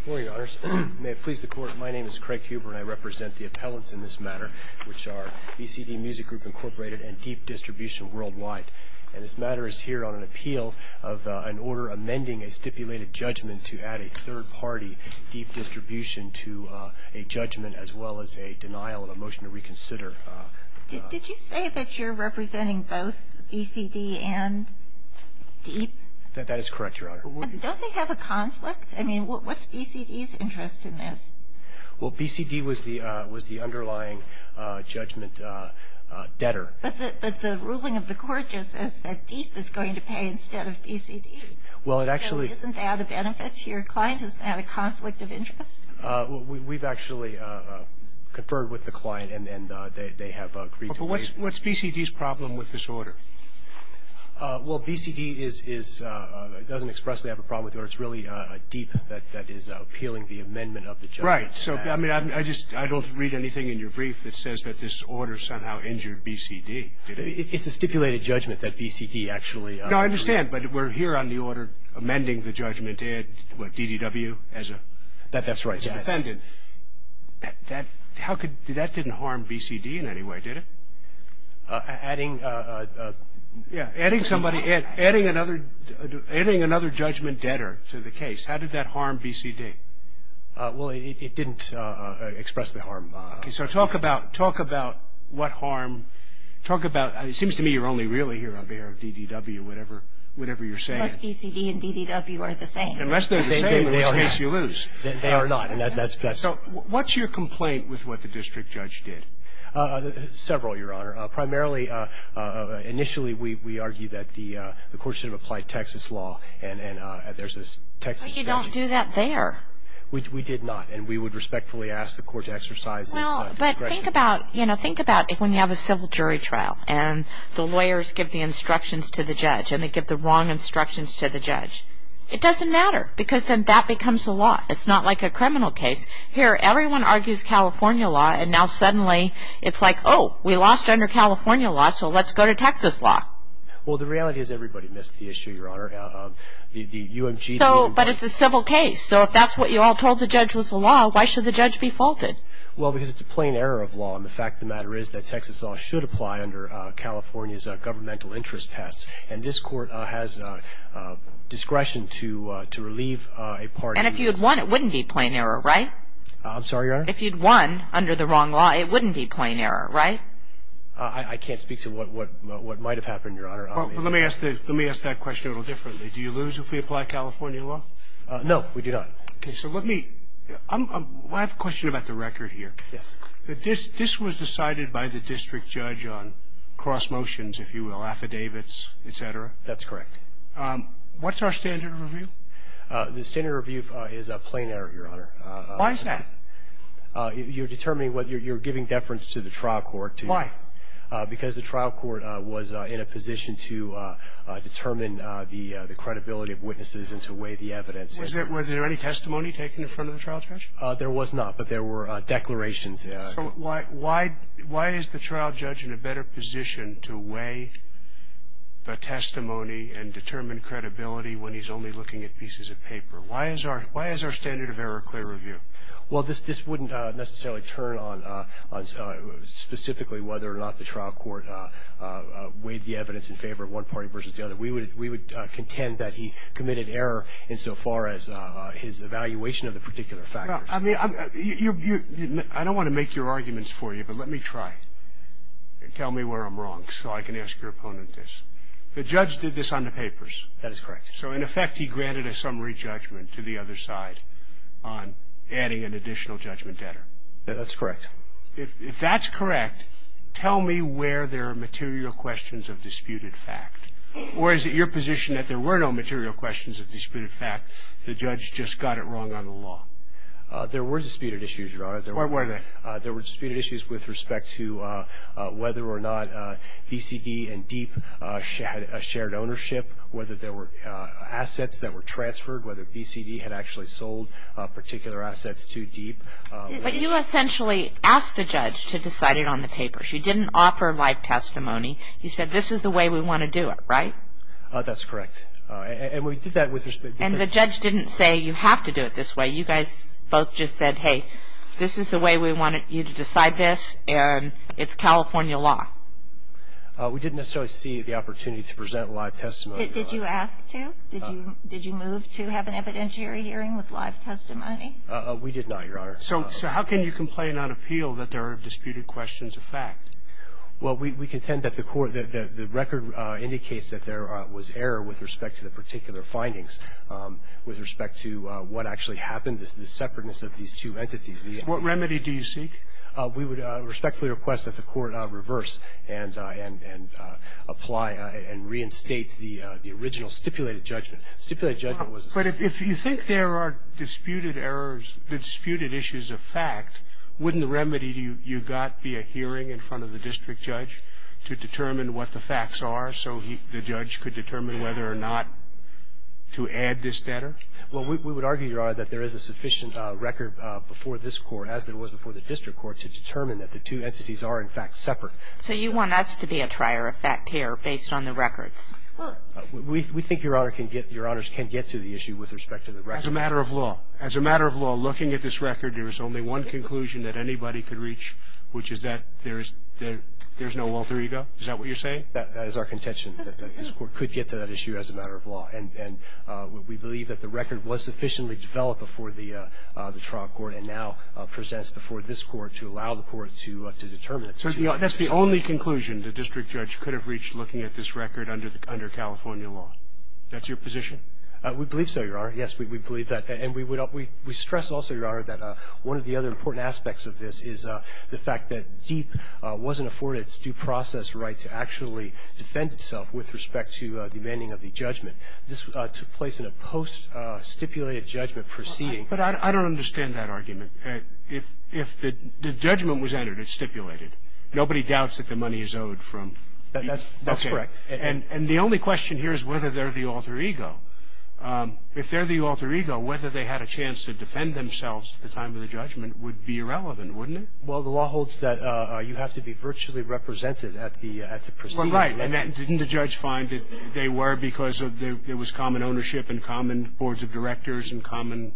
Good morning, Your Honors. May it please the Court, my name is Craig Huber and I represent the appellants in this matter, which are BCD Music Group, Inc. and Deep Distribution Worldwide. And this matter is here on an appeal of an order amending a stipulated judgment to add a third-party deep distribution to a judgment as well as a denial and a motion to reconsider. Did you say that you're representing both BCD and Deep? That is correct, Your Honor. Don't they have a conflict? I mean, what's BCD's interest in this? Well, BCD was the underlying judgment debtor. But the ruling of the court just says that Deep is going to pay instead of BCD. Well, it actually Isn't that a benefit to your client? Isn't that a conflict of interest? We've actually conferred with the client and they have agreed to pay. But what's BCD's problem with this order? Well, BCD doesn't expressly have a problem with the order. It's really Deep that is appealing the amendment of the judgment. Right. So, I mean, I just don't read anything in your brief that says that this order somehow injured BCD. It's a stipulated judgment that BCD actually No, I understand. But we're here on the order amending the judgment to add DDW as a That's right. As a defendant. That didn't harm BCD in any way, did it? Adding somebody, adding another judgment debtor to the case. How did that harm BCD? Well, it didn't express the harm. Okay, so talk about what harm. Talk about, it seems to me you're only really here on behalf of DDW, whatever you're saying. Unless BCD and DDW are the same. Unless they're the same, in which case you lose. They are not. So, what's your complaint with what the district judge did? Several, Your Honor. Primarily, initially we argued that the court should have applied Texas law. And there's this Texas statute. But you don't do that there. We did not. And we would respectfully ask the court to exercise its discretion. Well, but think about, you know, think about when you have a civil jury trial. And the lawyers give the instructions to the judge. And they give the wrong instructions to the judge. It doesn't matter because then that becomes a law. It's not like a criminal case. Here, everyone argues California law. And now suddenly it's like, oh, we lost under California law, so let's go to Texas law. Well, the reality is everybody missed the issue, Your Honor. So, but it's a civil case. So, if that's what you all told the judge was the law, why should the judge be faulted? Well, because it's a plain error of law. And the fact of the matter is that Texas law should apply under California's governmental interest test. And this court has discretion to relieve a party. And if you had won, it wouldn't be a plain error, right? I'm sorry, Your Honor? If you'd won under the wrong law, it wouldn't be a plain error, right? I can't speak to what might have happened, Your Honor. Well, let me ask that question a little differently. Do you lose if we apply California law? No, we do not. Okay. So let me, I have a question about the record here. Yes. This was decided by the district judge on cross motions, if you will, affidavits, et cetera? That's correct. What's our standard of review? The standard of review is a plain error, Your Honor. Why is that? You're determining what you're giving deference to the trial court. Why? Because the trial court was in a position to determine the credibility of witnesses and to weigh the evidence. Was there any testimony taken in front of the trial judge? There was not, but there were declarations. So why is the trial judge in a better position to weigh the testimony and determine credibility when he's only looking at pieces of paper? Why is our standard of error clear of view? Well, this wouldn't necessarily turn on specifically whether or not the trial court weighed the evidence in favor of one party versus the other. We would contend that he committed error insofar as his evaluation of the particular factor. I mean, I don't want to make your arguments for you, but let me try. Tell me where I'm wrong so I can ask your opponent this. The judge did this on the papers. That is correct. So, in effect, he granted a summary judgment to the other side on adding an additional judgment debtor. That's correct. If that's correct, tell me where there are material questions of disputed fact. Or is it your position that there were no material questions of disputed fact, the judge just got it wrong on the law? There were disputed issues, Your Honor. Where were they? There were disputed issues with respect to whether or not BCD and DEEP had a shared ownership, whether there were assets that were transferred, whether BCD had actually sold particular assets to DEEP. But you essentially asked the judge to decide it on the papers. You didn't offer live testimony. You said, this is the way we want to do it, right? That's correct. And we did that with respect to the judge. And the judge didn't say, you have to do it this way. You guys both just said, hey, this is the way we want you to decide this, and it's California law. We didn't necessarily see the opportunity to present live testimony. Did you ask to? Did you move to have an evidentiary hearing with live testimony? We did not, Your Honor. So how can you complain on appeal that there are disputed questions of fact? Well, we contend that the record indicates that there was error with respect to the particular findings, with respect to what actually happened, the separateness of these two entities. What remedy do you seek? We would respectfully request that the Court reverse and apply and reinstate the original stipulated judgment. But if you think there are disputed errors, disputed issues of fact, wouldn't the remedy you got be a hearing in front of the district judge to determine what the facts are so the judge could determine whether or not to add this standard? Well, we would argue, Your Honor, that there is a sufficient record before this Court, as there was before the district court, to determine that the two entities are, in fact, separate. So you want us to be a trier of fact here based on the records? Well, we think Your Honor can get to the issue with respect to the records. As a matter of law. As a matter of law, looking at this record, there is only one conclusion that anybody could reach, which is that there is no alter ego. Is that what you're saying? That is our contention, that this Court could get to that issue as a matter of law. And we believe that the record was sufficiently developed before the trial court and now presents before this Court to allow the Court to determine it. So that's the only conclusion the district judge could have reached looking at this record under California law? That's your position? We believe so, Your Honor. Yes, we believe that. And we stress also, Your Honor, that one of the other important aspects of this is the wasn't afforded its due process right to actually defend itself with respect to the demanding of the judgment. This took place in a post-stipulated judgment proceeding. But I don't understand that argument. If the judgment was entered, it's stipulated. Nobody doubts that the money is owed from. That's correct. And the only question here is whether they're the alter ego. If they're the alter ego, whether they had a chance to defend themselves at the time of the judgment would be irrelevant, wouldn't it? Well, the law holds that you have to be virtually represented at the proceeding. Well, right. And didn't the judge find that they were because there was common ownership and common boards of directors and common?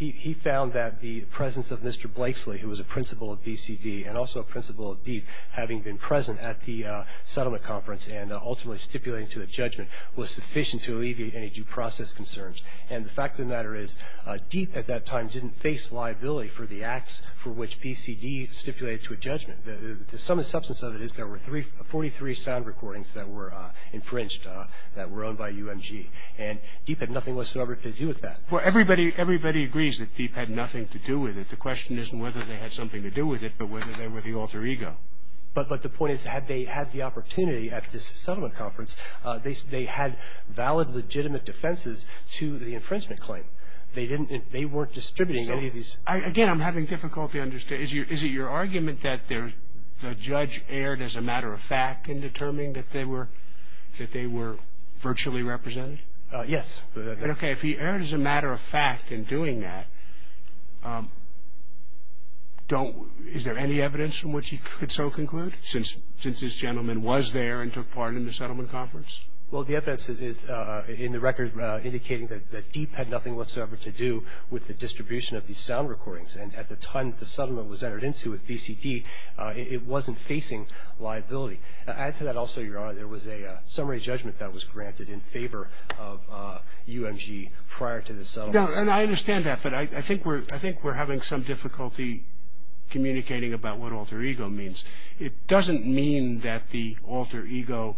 He found that the presence of Mr. Blakeslee, who was a principal of BCD and also a principal of DEAP, having been present at the settlement conference and ultimately stipulating to the judgment was sufficient to alleviate any due process concerns. And the fact of the matter is DEAP at that time didn't face liability for the acts for which BCD stipulated to a judgment. The sum and substance of it is there were 43 sound recordings that were infringed that were owned by UMG. And DEAP had nothing whatsoever to do with that. Well, everybody agrees that DEAP had nothing to do with it. The question isn't whether they had something to do with it, but whether they were the alter ego. But the point is, had they had the opportunity at this settlement conference, they had valid, legitimate defenses to the infringement claim. They weren't distributing any of these. Again, I'm having difficulty understanding. Is it your argument that the judge erred as a matter of fact in determining that they were virtually represented? Yes. Okay. If he erred as a matter of fact in doing that, is there any evidence from which he could so conclude, since this gentleman was there and took part in the settlement conference? Well, the evidence is in the record indicating that DEAP had nothing whatsoever to do with the distribution of these sound recordings. And at the time the settlement was entered into at BCD, it wasn't facing liability. Add to that also, Your Honor, there was a summary judgment that was granted in favor of UMG prior to the settlement. And I understand that, but I think we're having some difficulty communicating about what alter ego means. It doesn't mean that the alter ego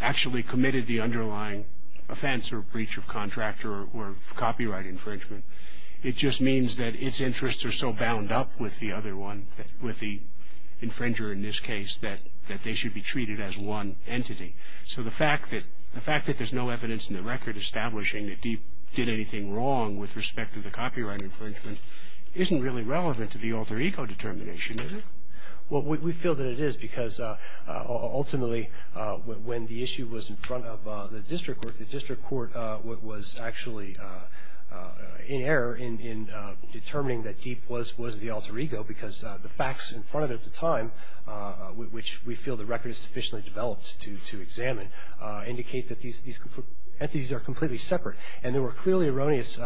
actually committed the underlying offense or breach of contractor or copyright infringement. It just means that its interests are so bound up with the other one, with the infringer in this case, that they should be treated as one entity. So the fact that there's no evidence in the record establishing that DEAP did anything wrong with respect to the copyright infringement isn't really relevant to the alter ego determination, is it? Well, we feel that it is because ultimately when the issue was in front of the district court, what was actually in error in determining that DEAP was the alter ego, because the facts in front of it at the time, which we feel the record is sufficiently developed to examine, indicate that these entities are completely separate. And there were clearly erroneous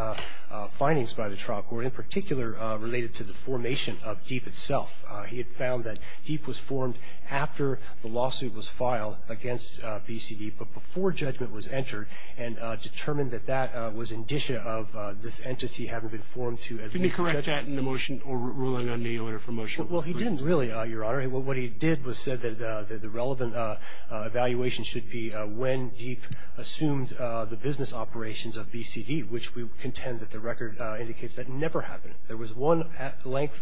findings by the trial court, in particular related to the formation of DEAP itself. He had found that DEAP was formed after the lawsuit was filed against BCD, but before judgment was entered, and determined that that was indicia of this entity having been formed to make judgment. Could you correct that in the motion or ruling on the order for motion? Well, he didn't really, Your Honor. What he did was said that the relevant evaluation should be when DEAP assumed the business operations of BCD, which we contend that the record indicates that never happened. There was one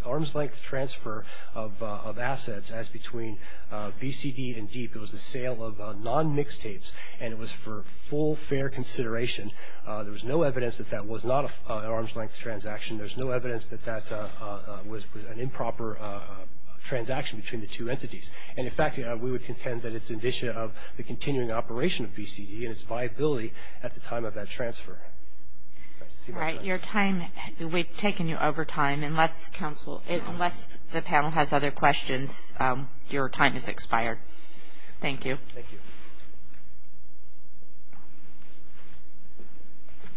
arm's-length transfer of assets as between BCD and DEAP. It was the sale of non-mixed tapes, and it was for full, fair consideration. There was no evidence that that was not an arm's-length transaction. There was no evidence that that was an improper transaction between the two entities. And, in fact, we would contend that it's indicia of the continuing operation of BCD and its viability at the time of that transfer. All right. Your time, we've taken you over time. Unless the panel has other questions, your time has expired. Thank you. Thank you.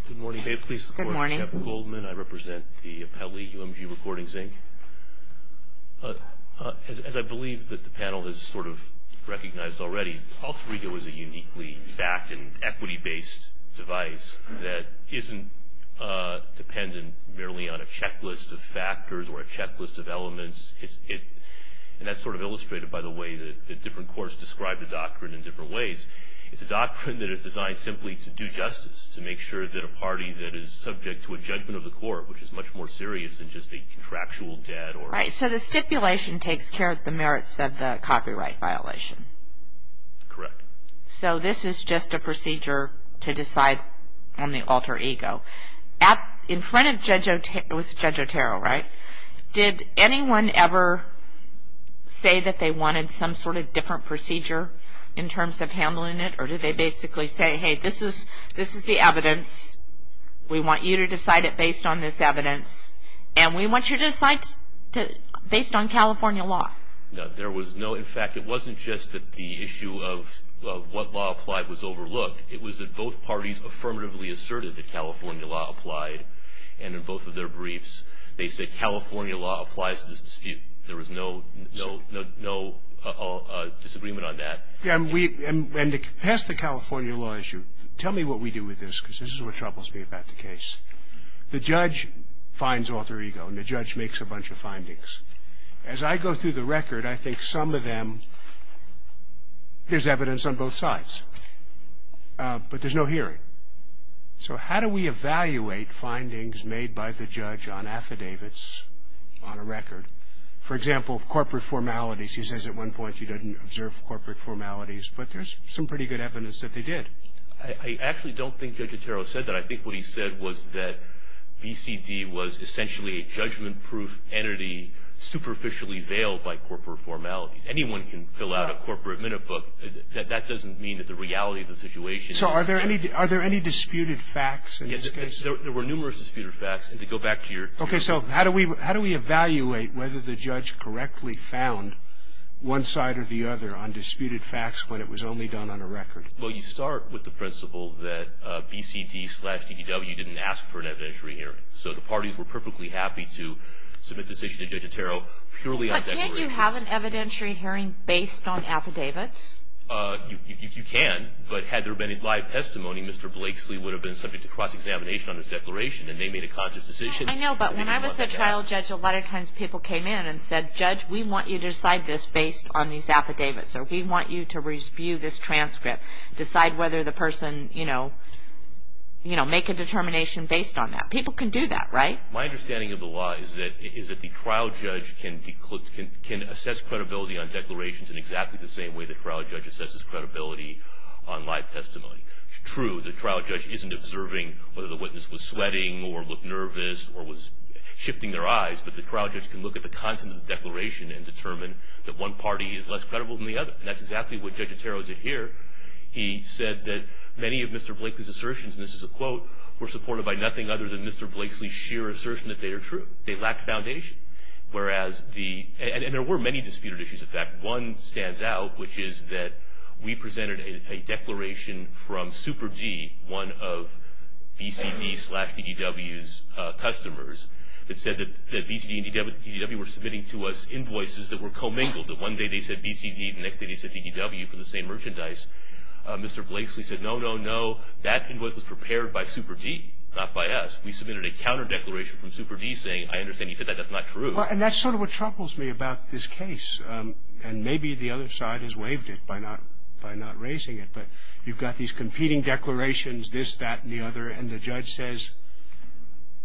Good morning. May it please the Court, I'm Kevin Goldman. I represent the appellee, UMG Recordings, Inc. As I believe that the panel has sort of recognized already, AlterEgo is a uniquely fact and equity-based device that isn't dependent merely on a checklist of factors or a checklist of elements. And that's sort of illustrated by the way that different courts describe the doctrine in different ways. It's a doctrine that is designed simply to do justice, to make sure that a party that is subject to a judgment of the court, which is much more serious than just a contractual debt or... Right. So the stipulation takes care of the merits of the copyright violation. Correct. So this is just a procedure to decide on the AlterEgo. In front of Judge Otero... it was Judge Otero, right? Did anyone ever say that they wanted some sort of different procedure in terms of handling it? Or did they basically say, hey, this is the evidence. We want you to decide it based on this evidence. And we want you to decide based on California law. No, there was no... In fact, it wasn't just that the issue of what law applied was overlooked. It was that both parties affirmatively asserted that California law applied. And in both of their briefs, they said California law applies to this dispute. There was no disagreement on that. And to pass the California law issue, tell me what we do with this, because this is what troubles me about the case. The judge finds AlterEgo, and the judge makes a bunch of findings. As I go through the record, I think some of them, there's evidence on both sides. But there's no hearing. So how do we evaluate findings made by the judge on affidavits on a record? For example, corporate formalities. He says at one point he didn't observe corporate formalities, but there's some pretty good evidence that they did. I actually don't think Judge Otero said that. But I think what he said was that BCD was essentially a judgment-proof entity superficially veiled by corporate formalities. Anyone can fill out a corporate minute book. That doesn't mean that the reality of the situation is... So are there any disputed facts in this case? Yes, there were numerous disputed facts. And to go back to your... Okay, so how do we evaluate whether the judge correctly found one side or the other on disputed facts when it was only done on a record? Well, you start with the principle that BCD slash DDW didn't ask for an evidentiary hearing. So the parties were perfectly happy to submit the decision to Judge Otero purely on declaration. But can't you have an evidentiary hearing based on affidavits? You can. But had there been a live testimony, Mr. Blakeslee would have been subject to cross-examination on his declaration, and they made a conscious decision. I know, but when I was a trial judge, a lot of times people came in and said, Judge, we want you to decide this based on these affidavits, or we want you to review this transcript, decide whether the person, you know, make a determination based on that. People can do that, right? My understanding of the law is that the trial judge can assess credibility on declarations in exactly the same way the trial judge assesses credibility on live testimony. True, the trial judge isn't observing whether the witness was sweating or looked nervous or was shifting their eyes, but the trial judge can look at the content of the declaration and determine that one party is less credible than the other. And that's exactly what Judge Otero did here. He said that many of Mr. Blakeslee's assertions, and this is a quote, were supported by nothing other than Mr. Blakeslee's sheer assertion that they are true. They lacked foundation. And there were many disputed issues, in fact. One stands out, which is that we presented a declaration from Super D, one of BCD slash DDW's customers, that said that BCD and DDW were submitting to us invoices that were commingled. That one day they said BCD, the next day they said DDW for the same merchandise. Mr. Blakeslee said, no, no, no, that invoice was prepared by Super D, not by us. We submitted a counter declaration from Super D saying, I understand you said that, that's not true. And that's sort of what troubles me about this case. And maybe the other side has waived it by not raising it. But you've got these competing declarations, this, that, and the other. And the judge says,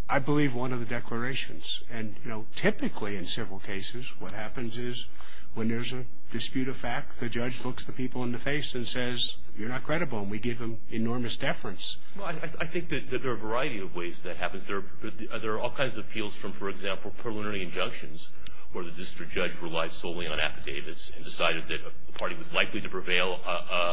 I believe one of the declarations. And, you know, typically in several cases what happens is when there's a dispute of fact, the judge looks the people in the face and says, you're not credible. And we give them enormous deference. Well, I think that there are a variety of ways that happens. There are all kinds of appeals from, for example, preliminary injunctions where the district judge relies solely on affidavits and decided that a party was likely to prevail.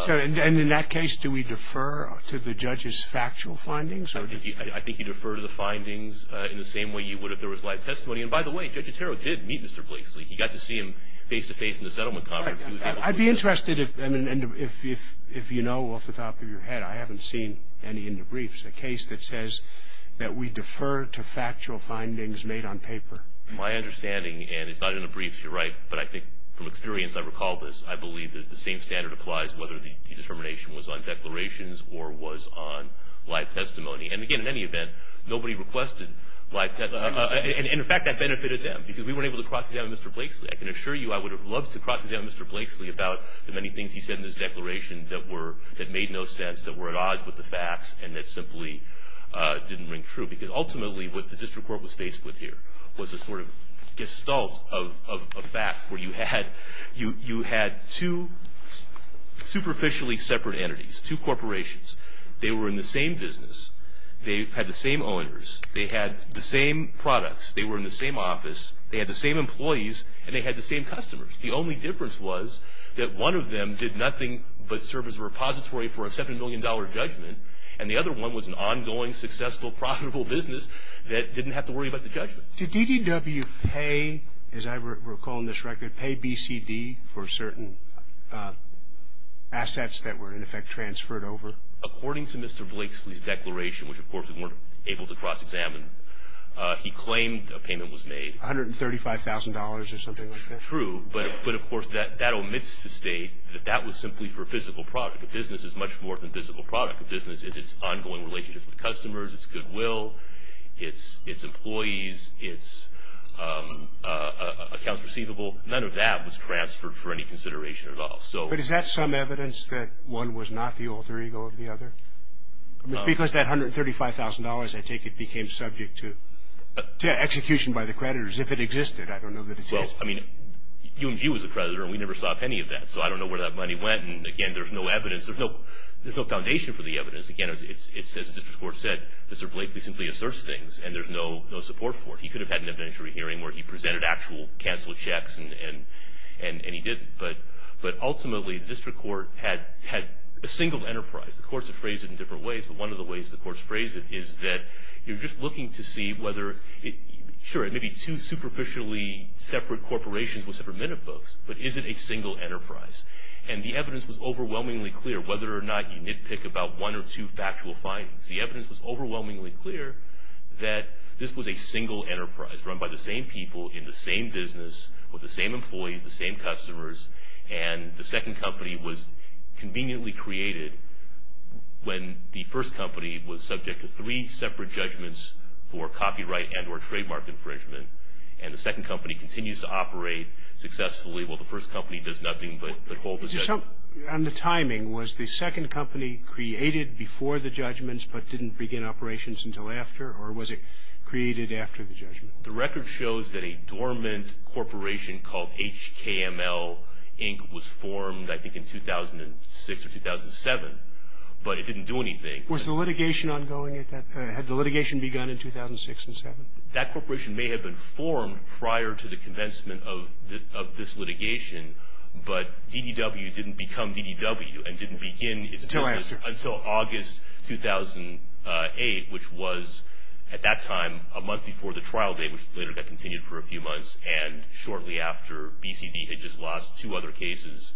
And in that case, do we defer to the judge's factual findings? I think you defer to the findings in the same way you would if there was live testimony. And by the way, Judge Otero did meet Mr. Blakeslee. He got to see him face-to-face in the settlement conference. I'd be interested if you know off the top of your head, I haven't seen any in the briefs, a case that says that we defer to factual findings made on paper. My understanding, and it's not in the briefs, you're right, but I think from experience, I recall this, I believe that the same standard applies whether the determination was on declarations or was on live testimony. And, again, in any event, nobody requested live testimony. And, in fact, that benefited them because we weren't able to cross-examine Mr. Blakeslee. I can assure you I would have loved to cross-examine Mr. Blakeslee about the many things he said in his declaration that made no sense, that were at odds with the facts, and that simply didn't ring true. Because, ultimately, what the district court was faced with here was a sort of gestalt of facts, where you had two superficially separate entities, two corporations. They were in the same business. They had the same owners. They had the same products. They were in the same office. They had the same employees, and they had the same customers. The only difference was that one of them did nothing but serve as a repository for a $7 million judgment, and the other one was an ongoing, successful, profitable business that didn't have to worry about the judgment. Did DDW pay, as I recall in this record, pay BCD for certain assets that were, in effect, transferred over? According to Mr. Blakeslee's declaration, which, of course, we weren't able to cross-examine, he claimed a payment was made. $135,000 or something like that? True. But, of course, that omits to state that that was simply for a physical product. A business is much more than a physical product. A business is its ongoing relationship with customers, its goodwill, its employees, its accounts receivable. None of that was transferred for any consideration at all. But is that some evidence that one was not the alter ego of the other? Because that $135,000, I take it, became subject to execution by the creditors, if it existed. I don't know that it is. Well, I mean, UMG was a creditor, and we never saw any of that, so I don't know where that money went. And, again, there's no evidence. There's no foundation for the evidence. Again, it's, as the district court said, Mr. Blakeslee simply asserts things, and there's no support for it. He could have had an evidentiary hearing where he presented actual canceled checks, and he didn't. But, ultimately, the district court had a single enterprise. The courts have phrased it in different ways, but one of the ways the courts phrase it is that you're just looking to see whether, sure, it may be two superficially separate corporations with separate minute books, but is it a single enterprise? And the evidence was overwhelmingly clear, whether or not you nitpick about one or two factual findings. The evidence was overwhelmingly clear that this was a single enterprise run by the same people in the same business with the same employees, the same customers. And the second company was conveniently created when the first company was subject to three separate judgments for copyright and or trademark infringement, and the second company continues to operate successfully while the first company does nothing but hold the judgment. And the timing, was the second company created before the judgments but didn't begin operations until after, or was it created after the judgment? The record shows that a dormant corporation called HKML, Inc., was formed, I think, in 2006 or 2007. But it didn't do anything. Was the litigation ongoing at that time? Had the litigation begun in 2006 and 2007? That corporation may have been formed prior to the commencement of this litigation, but DDW didn't become DDW and didn't begin until August 2008, which was, at that time, a month before the trial date, which later got continued for a few months, and shortly after, BCD had just lost two other cases,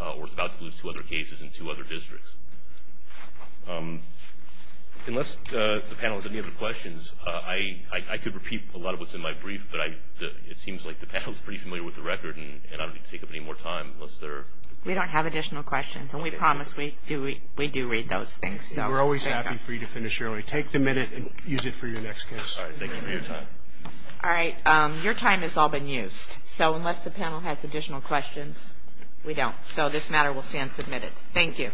or was about to lose two other cases in two other districts. Unless the panel has any other questions, I could repeat a lot of what's in my brief, but it seems like the panel is pretty familiar with the record, and I don't need to take up any more time. We don't have additional questions, and we promise we do read those things. We're always happy for you to finish early. Take the minute and use it for your next case. All right. Thank you for your time. All right. Your time has all been used. So unless the panel has additional questions, we don't. So this matter will stand submitted. Thank you.